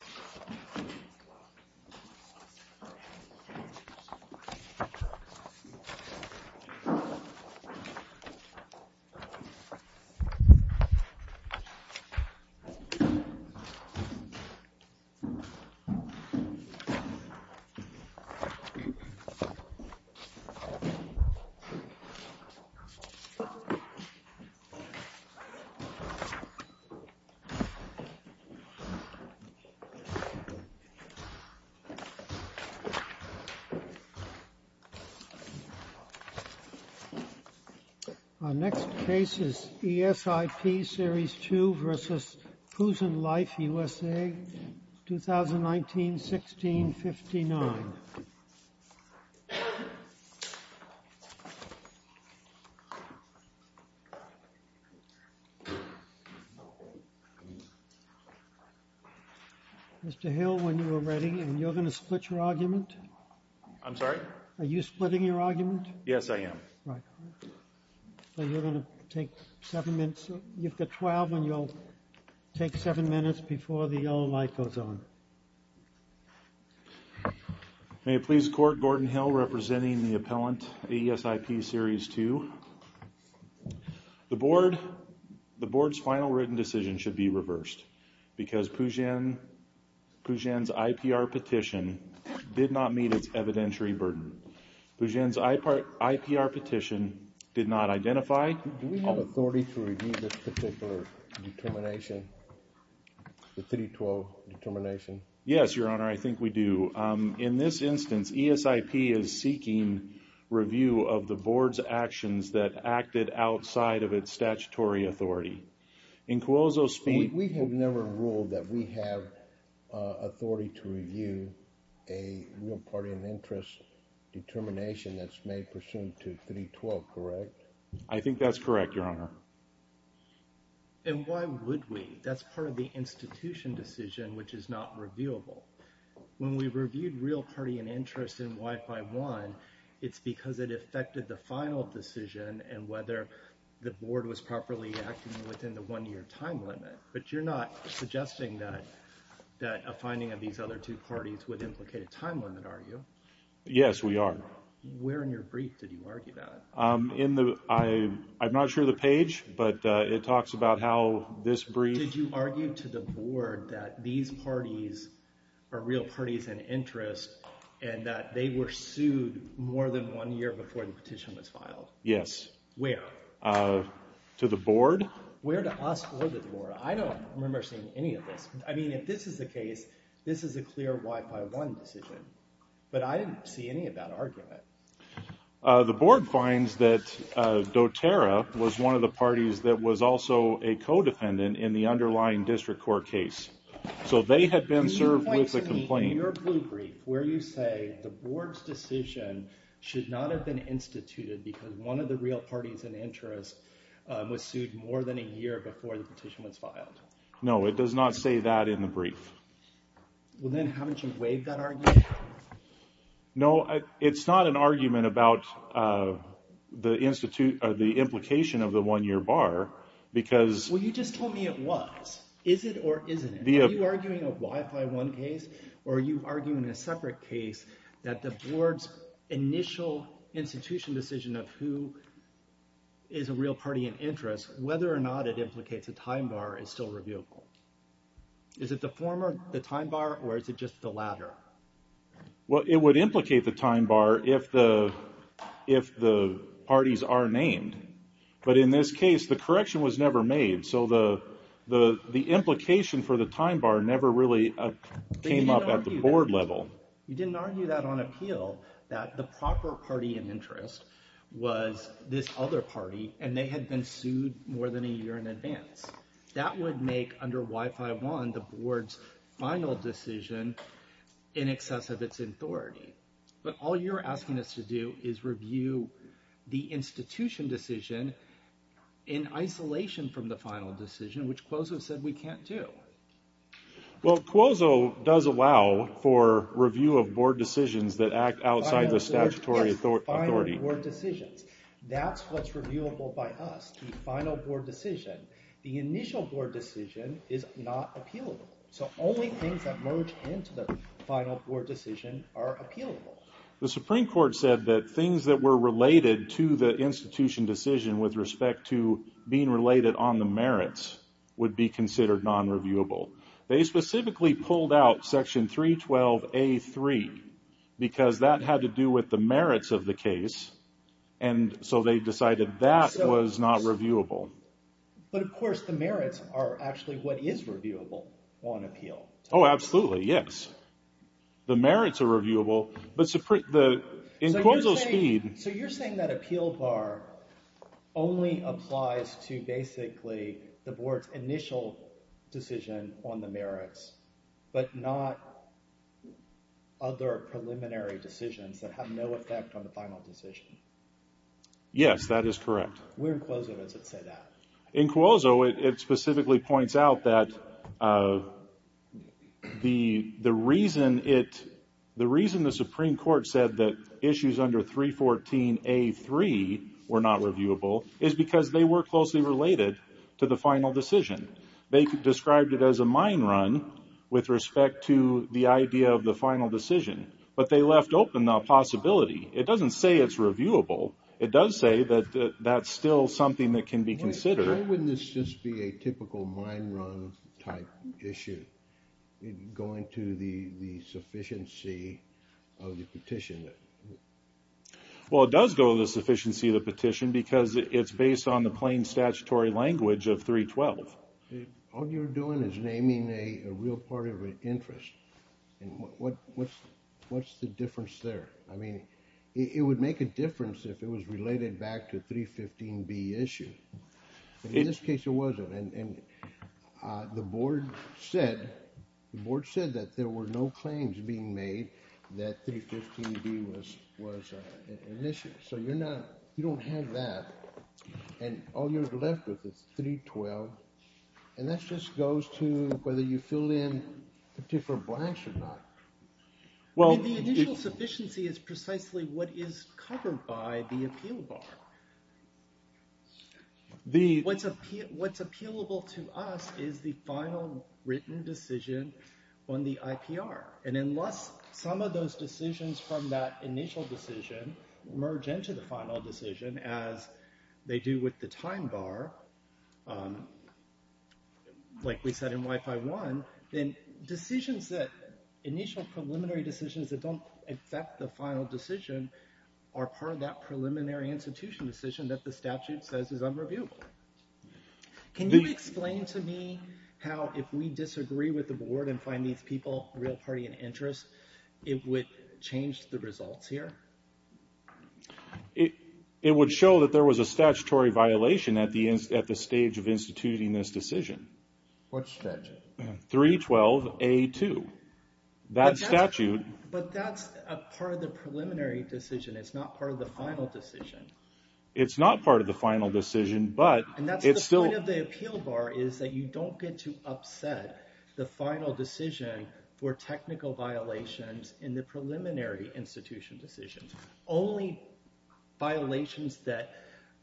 Puzhen Life USA, LLC, Our next case is ESIP Series 2 v. Puzhen Life USA, 2019-16-59. Mr. Hill, when you are ready, and you're going to split your argument? I'm sorry? Are you splitting your argument? Yes, I am. Right. So you're going to take seven minutes. You've got 12, and you'll take seven minutes before the yellow light goes on. May it please the Court, Gordon Hill representing the appellant, ESIP Series 2. The Board's final written decision should be reversed because Puzhen's IPR petition did not meet its evidentiary burden. Puzhen's IPR petition did not identify... Do we have authority to review this particular determination, the 312 determination? Yes, Your Honor, I think we do. In this instance, ESIP is seeking review of the Board's actions that acted outside of its statutory authority. We have never ruled that we have authority to review a real party of interest determination that's made pursuant to 312, correct? I think that's correct, Your Honor. And why would we? That's part of the institution decision, which is not reviewable. When we reviewed real party of interest in Y51, it's because it affected the final decision and whether the Board was properly acting within the one-year time limit. But you're not suggesting that a finding of these other two parties would implicate a time limit, are you? Yes, we are. Where in your brief did you argue that? I'm not sure of the page, but it talks about how this brief... and that they were sued more than one year before the petition was filed. Yes. Where? To the Board. Where to us or the Board? I don't remember seeing any of this. I mean, if this is the case, this is a clear Y51 decision. But I didn't see any of that argument. The Board finds that doTERRA was one of the parties that was also a co-defendant in the underlying district court case. So they had been served with a complaint. Can you point to me your blue brief where you say the Board's decision should not have been instituted because one of the real parties in interest was sued more than a year before the petition was filed? No, it does not say that in the brief. Well, then haven't you waived that argument? No, it's not an argument about the implication of the one-year bar because... Are you arguing a Y51 case or are you arguing a separate case that the Board's initial institution decision of who is a real party in interest, whether or not it implicates a time bar, is still reviewable? Is it the former, the time bar, or is it just the latter? Well, it would implicate the time bar if the parties are named. But in this case, the correction was never made. So the implication for the time bar never really came up at the Board level. You didn't argue that on appeal, that the proper party in interest was this other party and they had been sued more than a year in advance. That would make, under Y51, the Board's final decision in excess of its authority. But all you're asking us to do is review the institution decision in isolation from the final decision, which Cuozo said we can't do. Well, Cuozo does allow for review of Board decisions that act outside the statutory authority. That's what's reviewable by us, the final Board decision. The initial Board decision is not appealable. So only things that merge into the final Board decision are appealable. The Supreme Court said that things that were related to the institution decision with respect to being related on the merits would be considered non-reviewable. They specifically pulled out Section 312A3 because that had to do with the merits of the case, and so they decided that was not reviewable. But, of course, the merits are actually what is reviewable on appeal. Oh, absolutely, yes. The merits are reviewable, but in Cuozo's speed... So you're saying that appeal bar only applies to basically the Board's initial decision on the merits, but not other preliminary decisions that have no effect on the final decision? Yes, that is correct. Where in Cuozo does it say that? In Cuozo, it specifically points out that the reason the Supreme Court said that issues under 314A3 were not reviewable is because they were closely related to the final decision. They described it as a mine run with respect to the idea of the final decision, but they left open the possibility. It doesn't say it's reviewable. It does say that that's still something that can be considered. Why wouldn't this just be a typical mine run type issue, going to the sufficiency of the petition? Well, it does go to the sufficiency of the petition because it's based on the plain statutory language of 312. All you're doing is naming a real part of an interest, and what's the difference there? I mean, it would make a difference if it was related back to 315B issue. In this case, it wasn't, and the Board said that there were no claims being made that 315B was an issue. So you don't have that, and all you're left with is 312, and that just goes to whether you fill in the different blanks or not. Well, the initial sufficiency is precisely what is covered by the appeal bar. What's appealable to us is the final written decision on the IPR, and unless some of those decisions from that initial decision merge into the final decision, as they do with the time bar, like we said in Wi-Fi 1, then initial preliminary decisions that don't affect the final decision are part of that preliminary institution decision that the statute says is unreviewable. Can you explain to me how, if we disagree with the Board and find these people, real party of interest, it would change the results here? It would show that there was a statutory violation at the stage of instituting this decision. What statute? 312A2. But that's a part of the preliminary decision. It's not part of the final decision. It's not part of the final decision, but it's still... And that's the point of the appeal bar, is that you don't get to upset the final decision for technical violations in the preliminary institution decision. Only violations that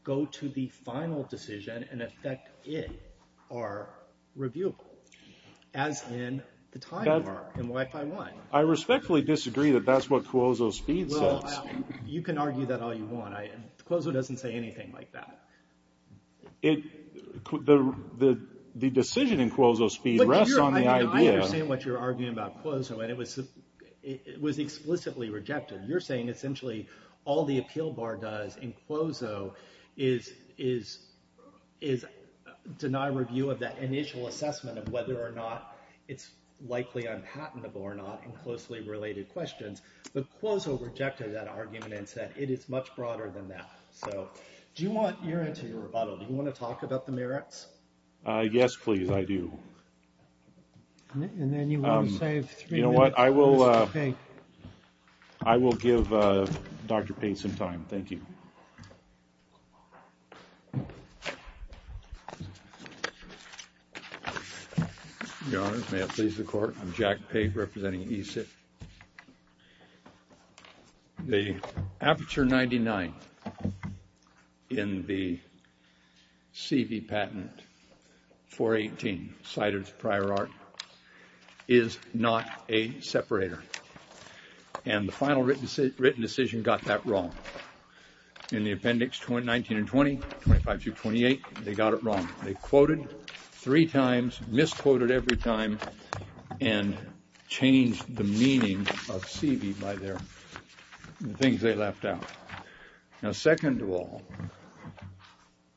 go to the final decision and affect it are reviewable, as in the time bar in Wi-Fi 1. I respectfully disagree that that's what Cuozo's speed says. Well, you can argue that all you want. Cuozo doesn't say anything like that. The decision in Cuozo's speed rests on the idea... Essentially, all the appeal bar does in Cuozo is deny review of that initial assessment of whether or not it's likely unpatentable or not in closely related questions. But Cuozo rejected that argument and said it is much broader than that. So do you want... You're into your rebuttal. Do you want to talk about the merits? Yes, please. I do. And then you want to save three minutes. Well, I will give Dr. Pate some time. Thank you. Your Honors, may it please the Court, I'm Jack Pate, representing ESIT. The aperture 99 in the CV patent 418, cited as prior art, is not a separator. And the final written decision got that wrong. In the appendix 19 and 20, 25 through 28, they got it wrong. They quoted three times, misquoted every time and changed the meaning of CV by the things they left out. Now, second of all,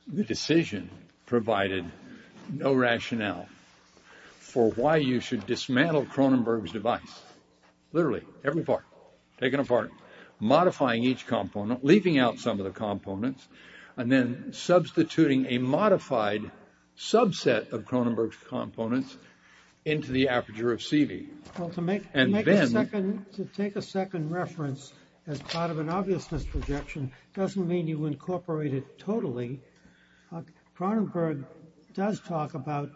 the decision provided no rationale for why you should dismantle Cronenberg's device. Literally, every part taken apart, modifying each component, leaving out some of the components, and then substituting a modified subset of Cronenberg's components into the aperture of CV. Well, to take a second reference as part of an obvious misprojection doesn't mean you incorporate it totally. Cronenberg does talk about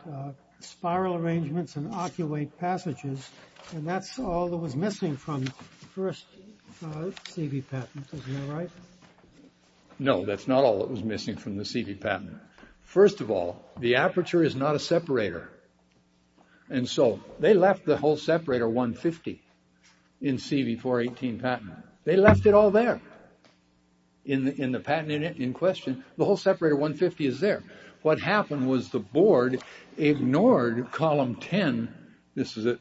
spiral arrangements and oculate passages, and that's all that was missing from the first CV patent. Is that right? No, that's not all that was missing from the CV patent. First of all, the aperture is not a separator. And so they left the whole separator 150 in CV 418 patent. They left it all there in the patent in question. The whole separator 150 is there. What happened was the board ignored column 10. This is at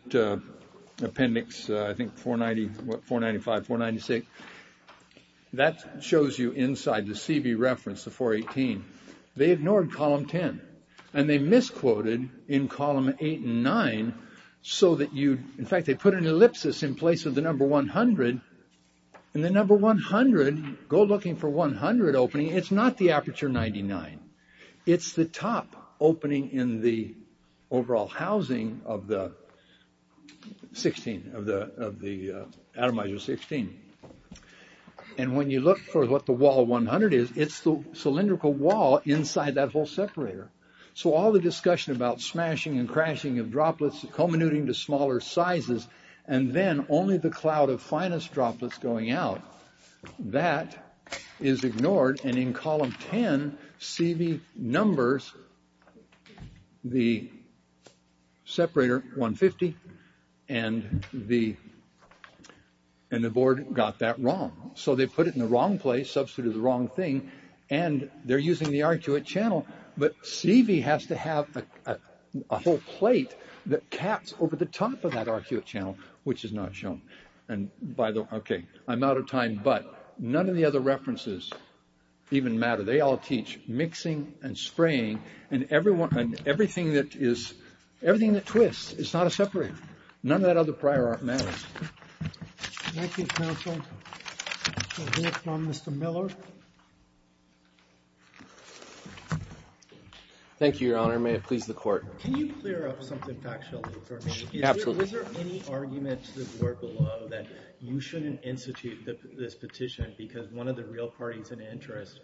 appendix, I think, 490, 495, 496. That shows you inside the CV reference, the 418. They ignored column 10, and they misquoted in column 8 and 9 so that you, in fact, they put an ellipsis in place of the number 100. And the number 100, go looking for 100 opening. It's not the aperture 99. It's the top opening in the overall housing of the 16, of the atomizer 16. And when you look for what the wall 100 is, it's the cylindrical wall inside that whole separator. So all the discussion about smashing and crashing of droplets, comminuting to smaller sizes, and then only the cloud of finest droplets going out. That is ignored. And in column 10, CV numbers the separator 150. And the board got that wrong. So they put it in the wrong place, substituted the wrong thing. And they're using the arcuate channel. But CV has to have a whole plate that caps over the top of that arcuate channel, which is not shown. And by the way, okay, I'm out of time. But none of the other references even matter. They all teach mixing and spraying. And everything that is, everything that twists is not a separator. None of that other prior art matters. Thank you, counsel. We'll hear from Mr. Miller. Thank you, Your Honor. May it please the Court. Can you clear up something factually for me? Absolutely. Is there any argument to the board below that you shouldn't institute this petition because one of the real parties in interest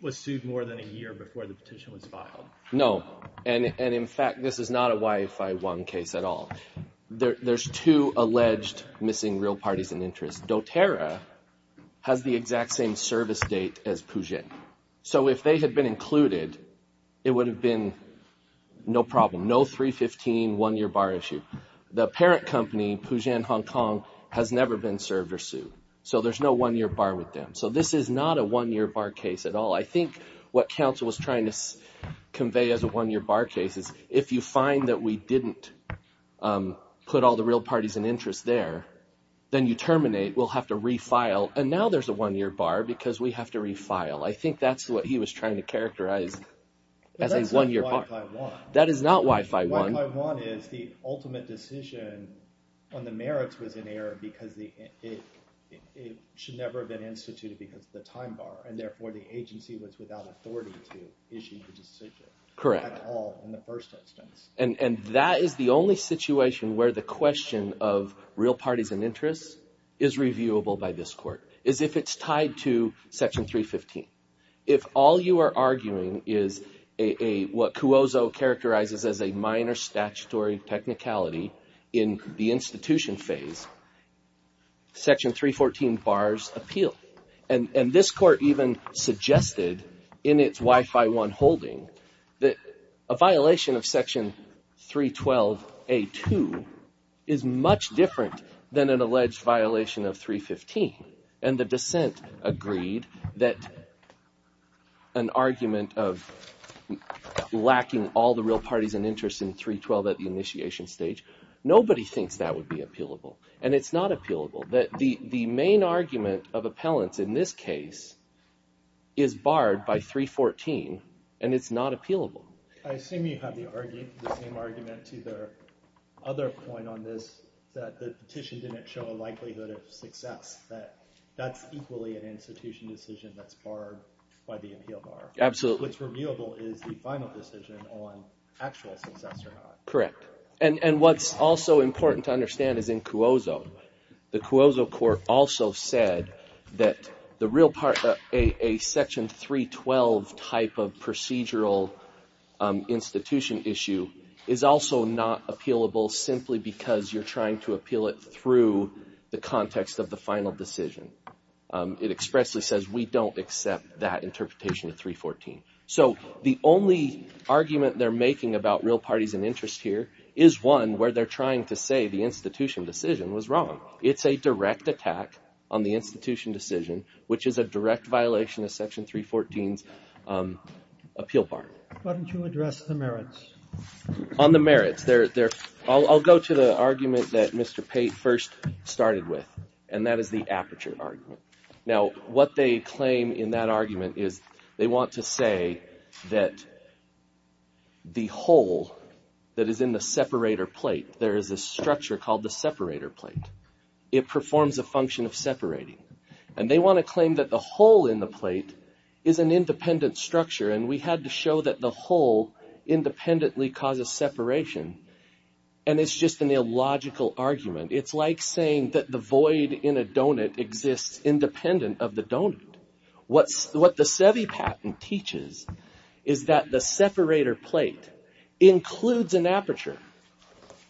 was sued more than a year before the petition was filed? No. And in fact, this is not a YFI-1 case at all. There's two alleged missing real parties in interest. doTERRA has the exact same service date as Pugen. So if they had been included, it would have been no problem, no 315 one-year bar issue. The parent company, Pugen Hong Kong, has never been served or sued. So there's no one-year bar with them. So this is not a one-year bar case at all. I think what counsel was trying to convey as a one-year bar case is if you find that we didn't put all the real parties in interest there, then you terminate. We'll have to refile. And now there's a one-year bar because we have to refile. I think that's what he was trying to characterize as a one-year bar. That's not YFI-1. That is not YFI-1. But YFI-1 is the ultimate decision when the merits was in error because it should never have been instituted because of the time bar. And therefore, the agency was without authority to issue the decision at all in the first instance. And that is the only situation where the question of real parties in interest is reviewable by this court is if it's tied to section 315. If all you are arguing is what Cuozzo characterizes as a minor statutory technicality in the institution phase, section 314 bars appeal. And this court even suggested in its YFI-1 holding that a violation of section 312a2 is much different than an alleged violation of 315. And the dissent agreed that an argument of lacking all the real parties in interest in 312 at the initiation stage, nobody thinks that would be appealable. And it's not appealable. The main argument of appellants in this case is barred by 314, and it's not appealable. I assume you have the same argument to the other point on this that the petition didn't show a likelihood of success. That that's equally an institution decision that's barred by the appeal bar. Absolutely. Which reviewable is the final decision on actual success or not. Correct. And what's also important to understand is in Cuozzo. The Cuozzo court also said that a section 312 type of procedural institution issue is also not appealable simply because you're trying to appeal it through the context of the final decision. It expressly says we don't accept that interpretation of 314. So the only argument they're making about real parties in interest here is one where they're trying to say the institution decision was wrong. It's a direct attack on the institution decision, which is a direct violation of Section 314's appeal bar. Why don't you address the merits? On the merits. I'll go to the argument that Mr. Pate first started with, and that is the aperture argument. Now, what they claim in that argument is they want to say that the hole that is in the separator plate, there is a structure called the separator plate. It performs a function of separating. And they want to claim that the hole in the plate is an independent structure, and we had to show that the hole independently causes separation. And it's just an illogical argument. It's like saying that the void in a donut exists independent of the donut. What the SEVI patent teaches is that the separator plate includes an aperture.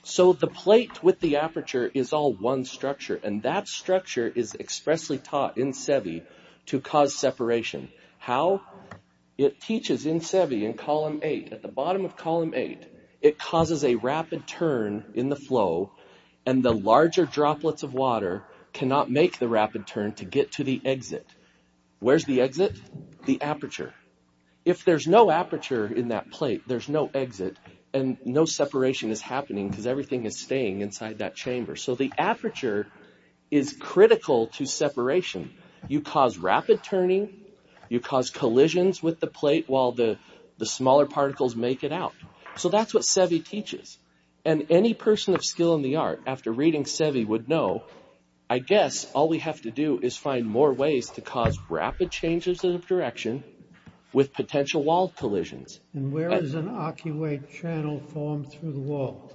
So the plate with the aperture is all one structure, and that structure is expressly taught in SEVI to cause separation. How? It teaches in SEVI in Column 8. At the bottom of Column 8, it causes a rapid turn in the flow, and the larger droplets of water cannot make the rapid turn to get to the exit. Where's the exit? The aperture. If there's no aperture in that plate, there's no exit, and no separation is happening because everything is staying inside that chamber. So the aperture is critical to separation. You cause rapid turning. You cause collisions with the plate while the smaller particles make it out. So that's what SEVI teaches. And any person of skill in the art, after reading SEVI, would know, I guess all we have to do is find more ways to cause rapid changes in direction with potential wall collisions. And where is an arcuate channel formed through the wall?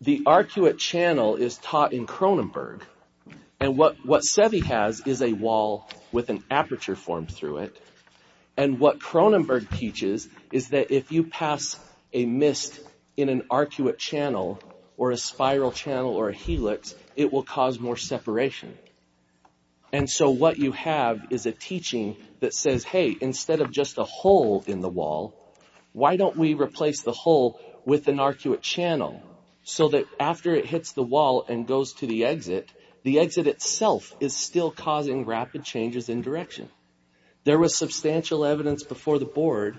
The arcuate channel is taught in Cronenberg. And what SEVI has is a wall with an aperture formed through it. And what Cronenberg teaches is that if you pass a mist in an arcuate channel or a spiral channel or a helix, it will cause more separation. And so what you have is a teaching that says, hey, instead of just a hole in the wall, why don't we replace the hole with an arcuate channel so that after it hits the wall and goes to the exit, the exit itself is still causing rapid changes in direction. There was substantial evidence before the board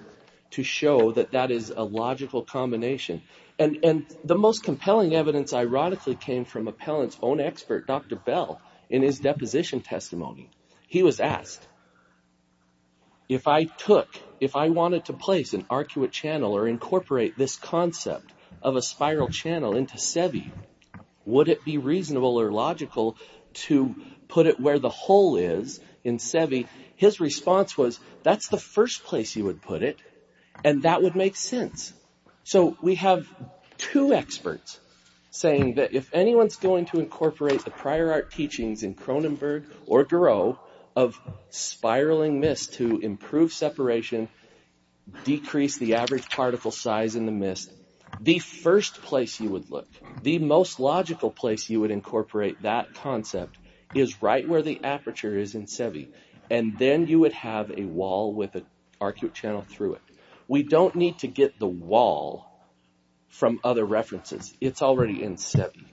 to show that that is a logical combination. And the most compelling evidence, ironically, came from Appellant's own expert, Dr. Bell, in his deposition testimony. He was asked, if I took, if I wanted to place an arcuate channel or incorporate this concept of a spiral channel into SEVI, would it be reasonable or logical to put it where the hole is in SEVI? His response was, that's the first place you would put it. And that would make sense. So we have two experts saying that if anyone's going to incorporate the prior art teachings in Cronenberg or Giraud of spiraling mist to improve separation, decrease the average particle size in the mist, the first place you would look, the most logical place you would incorporate that concept is right where the aperture is in SEVI. And then you would have a wall with an arcuate channel through it. We don't need to get the wall from other references. It's already in SEVI.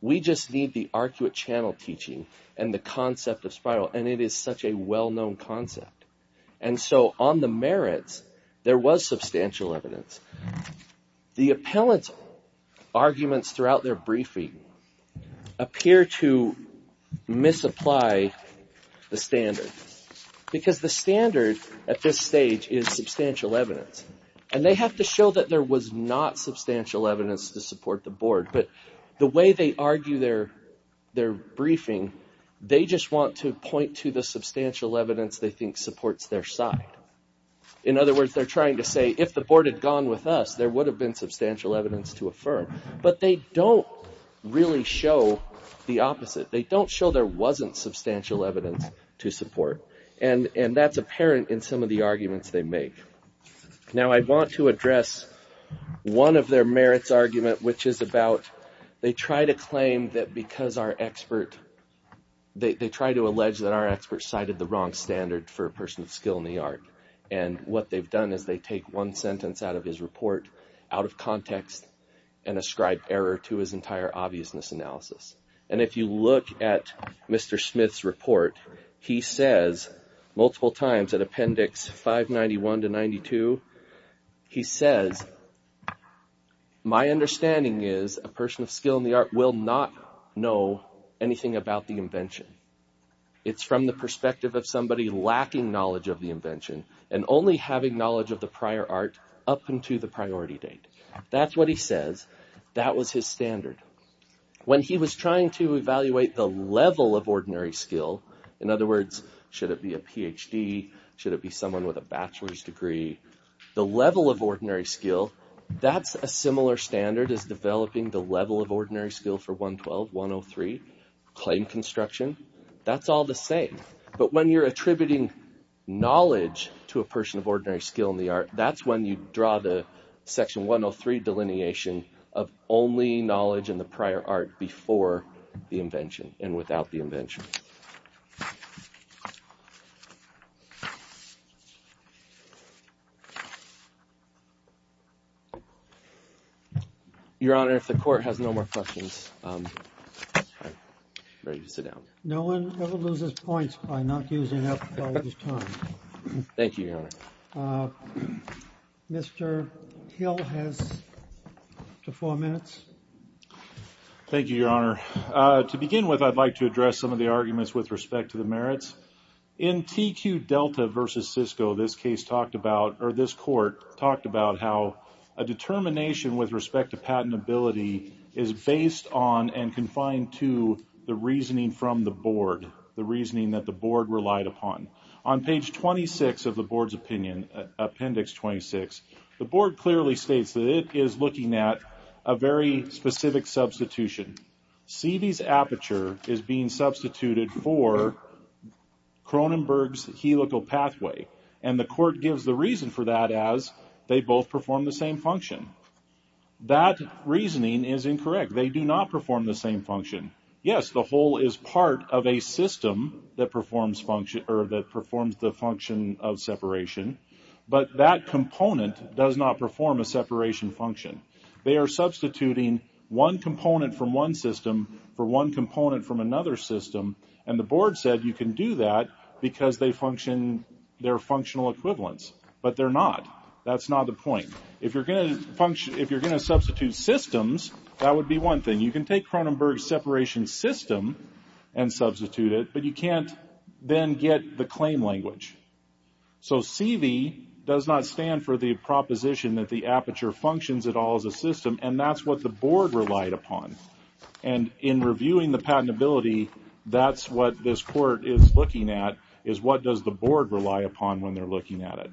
We just need the arcuate channel teaching and the concept of spiral, and it is such a well-known concept. And so on the merits, there was substantial evidence. The appellant's arguments throughout their briefing appear to misapply the standard because the standard at this stage is substantial evidence. And they have to show that there was not substantial evidence to support the board. But the way they argue their briefing, they just want to point to the substantial evidence they think supports their side. In other words, they're trying to say if the board had gone with us, there would have been substantial evidence to affirm. But they don't really show the opposite. They don't show there wasn't substantial evidence to support. And that's apparent in some of the arguments they make. Now, I want to address one of their merits argument, which is about they try to claim that because our expert – they try to allege that our expert cited the wrong standard for a person with skill in the art. And what they've done is they take one sentence out of his report, out of context, and ascribe error to his entire obviousness analysis. And if you look at Mr. Smith's report, he says multiple times in appendix 591 to 92, he says, my understanding is a person of skill in the art will not know anything about the invention. It's from the perspective of somebody lacking knowledge of the invention and only having knowledge of the prior art up until the priority date. That's what he says. That was his standard. When he was trying to evaluate the level of ordinary skill – in other words, should it be a Ph.D., should it be someone with a bachelor's degree – the level of ordinary skill, that's a similar standard as developing the level of ordinary skill for 112, 103, claim construction. That's all the same. But when you're attributing knowledge to a person of ordinary skill in the art, that's when you draw the section 103 delineation of only knowledge in the prior art before the invention and without the invention. Your Honor, if the court has no more questions, I'm ready to sit down. No one ever loses points by not using up all of his time. Thank you, Your Honor. Mr. Hill has up to four minutes. Thank you, Your Honor. To begin with, I'd like to address some of the arguments with respect to the merits. In TQ Delta v. Cisco, this court talked about how a determination with respect to patentability is based on and confined to the reasoning from the board, the reasoning that the board relied upon. On page 26 of the board's opinion, Appendix 26, the board clearly states that it is looking at a very specific substitution. See these aperture is being substituted for Cronenberg's helical pathway. And the court gives the reason for that as they both perform the same function. That reasoning is incorrect. They do not perform the same function. Yes, the hole is part of a system that performs the function of separation. But that component does not perform a separation function. They are substituting one component from one system for one component from another system. And the board said you can do that because they function their functional equivalents. But they're not. That's not the point. If you're going to substitute systems, that would be one thing. You can take Cronenberg's separation system and substitute it, but you can't then get the claim language. So CV does not stand for the proposition that the aperture functions at all as a system. And that's what the board relied upon. And in reviewing the patentability, that's what this court is looking at is what does the board rely upon when they're looking at it.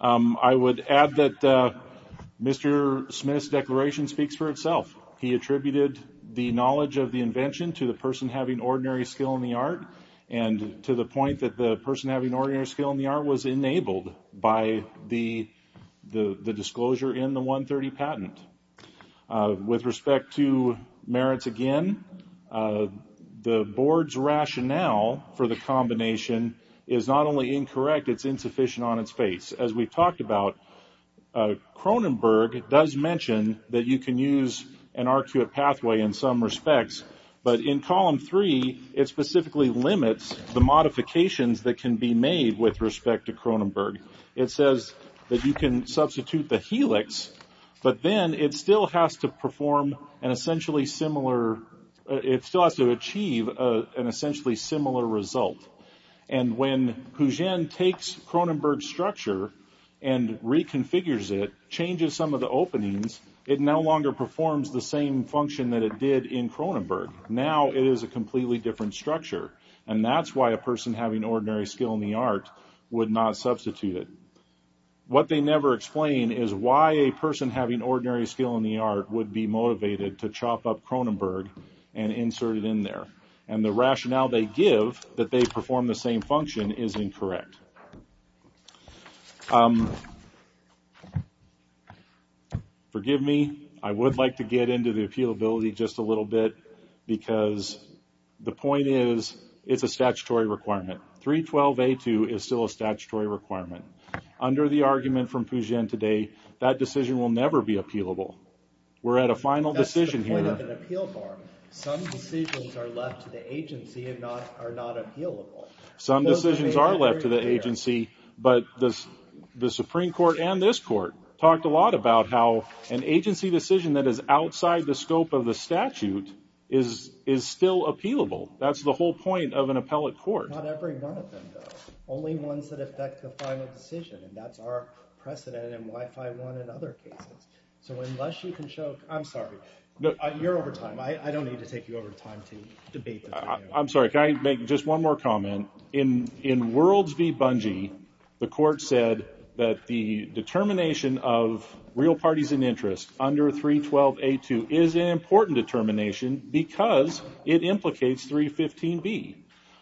I would add that Mr. Smith's declaration speaks for itself. He attributed the knowledge of the invention to the person having ordinary skill in the art and to the point that the person having ordinary skill in the art was enabled by the disclosure in the 130 patent. With respect to merits again, the board's rationale for the combination is not only incorrect, it's insufficient on its face. As we've talked about, Cronenberg does mention that you can use an arcuate pathway in some respects. But in Column 3, it specifically limits the modifications that can be made with respect to Cronenberg. It says that you can substitute the helix, but then it still has to perform an essentially similar, it still has to achieve an essentially similar result. And when Pugin takes Cronenberg's structure and reconfigures it, changes some of the openings, it no longer performs the same function that it did in Cronenberg. Now it is a completely different structure. And that's why a person having ordinary skill in the art would not substitute it. What they never explain is why a person having ordinary skill in the art would be motivated to chop up Cronenberg and insert it in there. And the rationale they give that they perform the same function is incorrect. Forgive me, I would like to get into the appealability just a little bit, because the point is, it's a statutory requirement. 312A2 is still a statutory requirement. Under the argument from Pugin today, that decision will never be appealable. We're at a final decision here. That's the point of an appeal bar. Some decisions are left to the agency and are not appealable. Some decisions are left to the agency. But the Supreme Court and this court talked a lot about how an agency decision that is outside the scope of the statute is still appealable. That's the whole point of an appellate court. Not every one of them, though. Only ones that affect the final decision. And that's our precedent and WIFI 1 in other cases. So unless you can show – I'm sorry. You're over time. I don't need to take you over time to debate this. I'm sorry. Can I make just one more comment? In Worlds v. Bungie, the court said that the determination of real parties in interest under 312A2 is an important determination because it implicates 315B.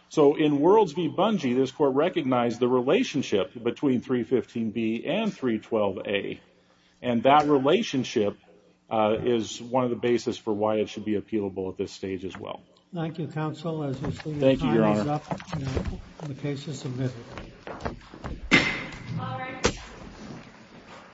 So in Worlds v. Bungie, this court recognized the relationship between 315B and 312A. And that relationship is one of the basis for why it should be appealable at this stage as well. Thank you, counsel. Thank you, Your Honor. The case is submitted.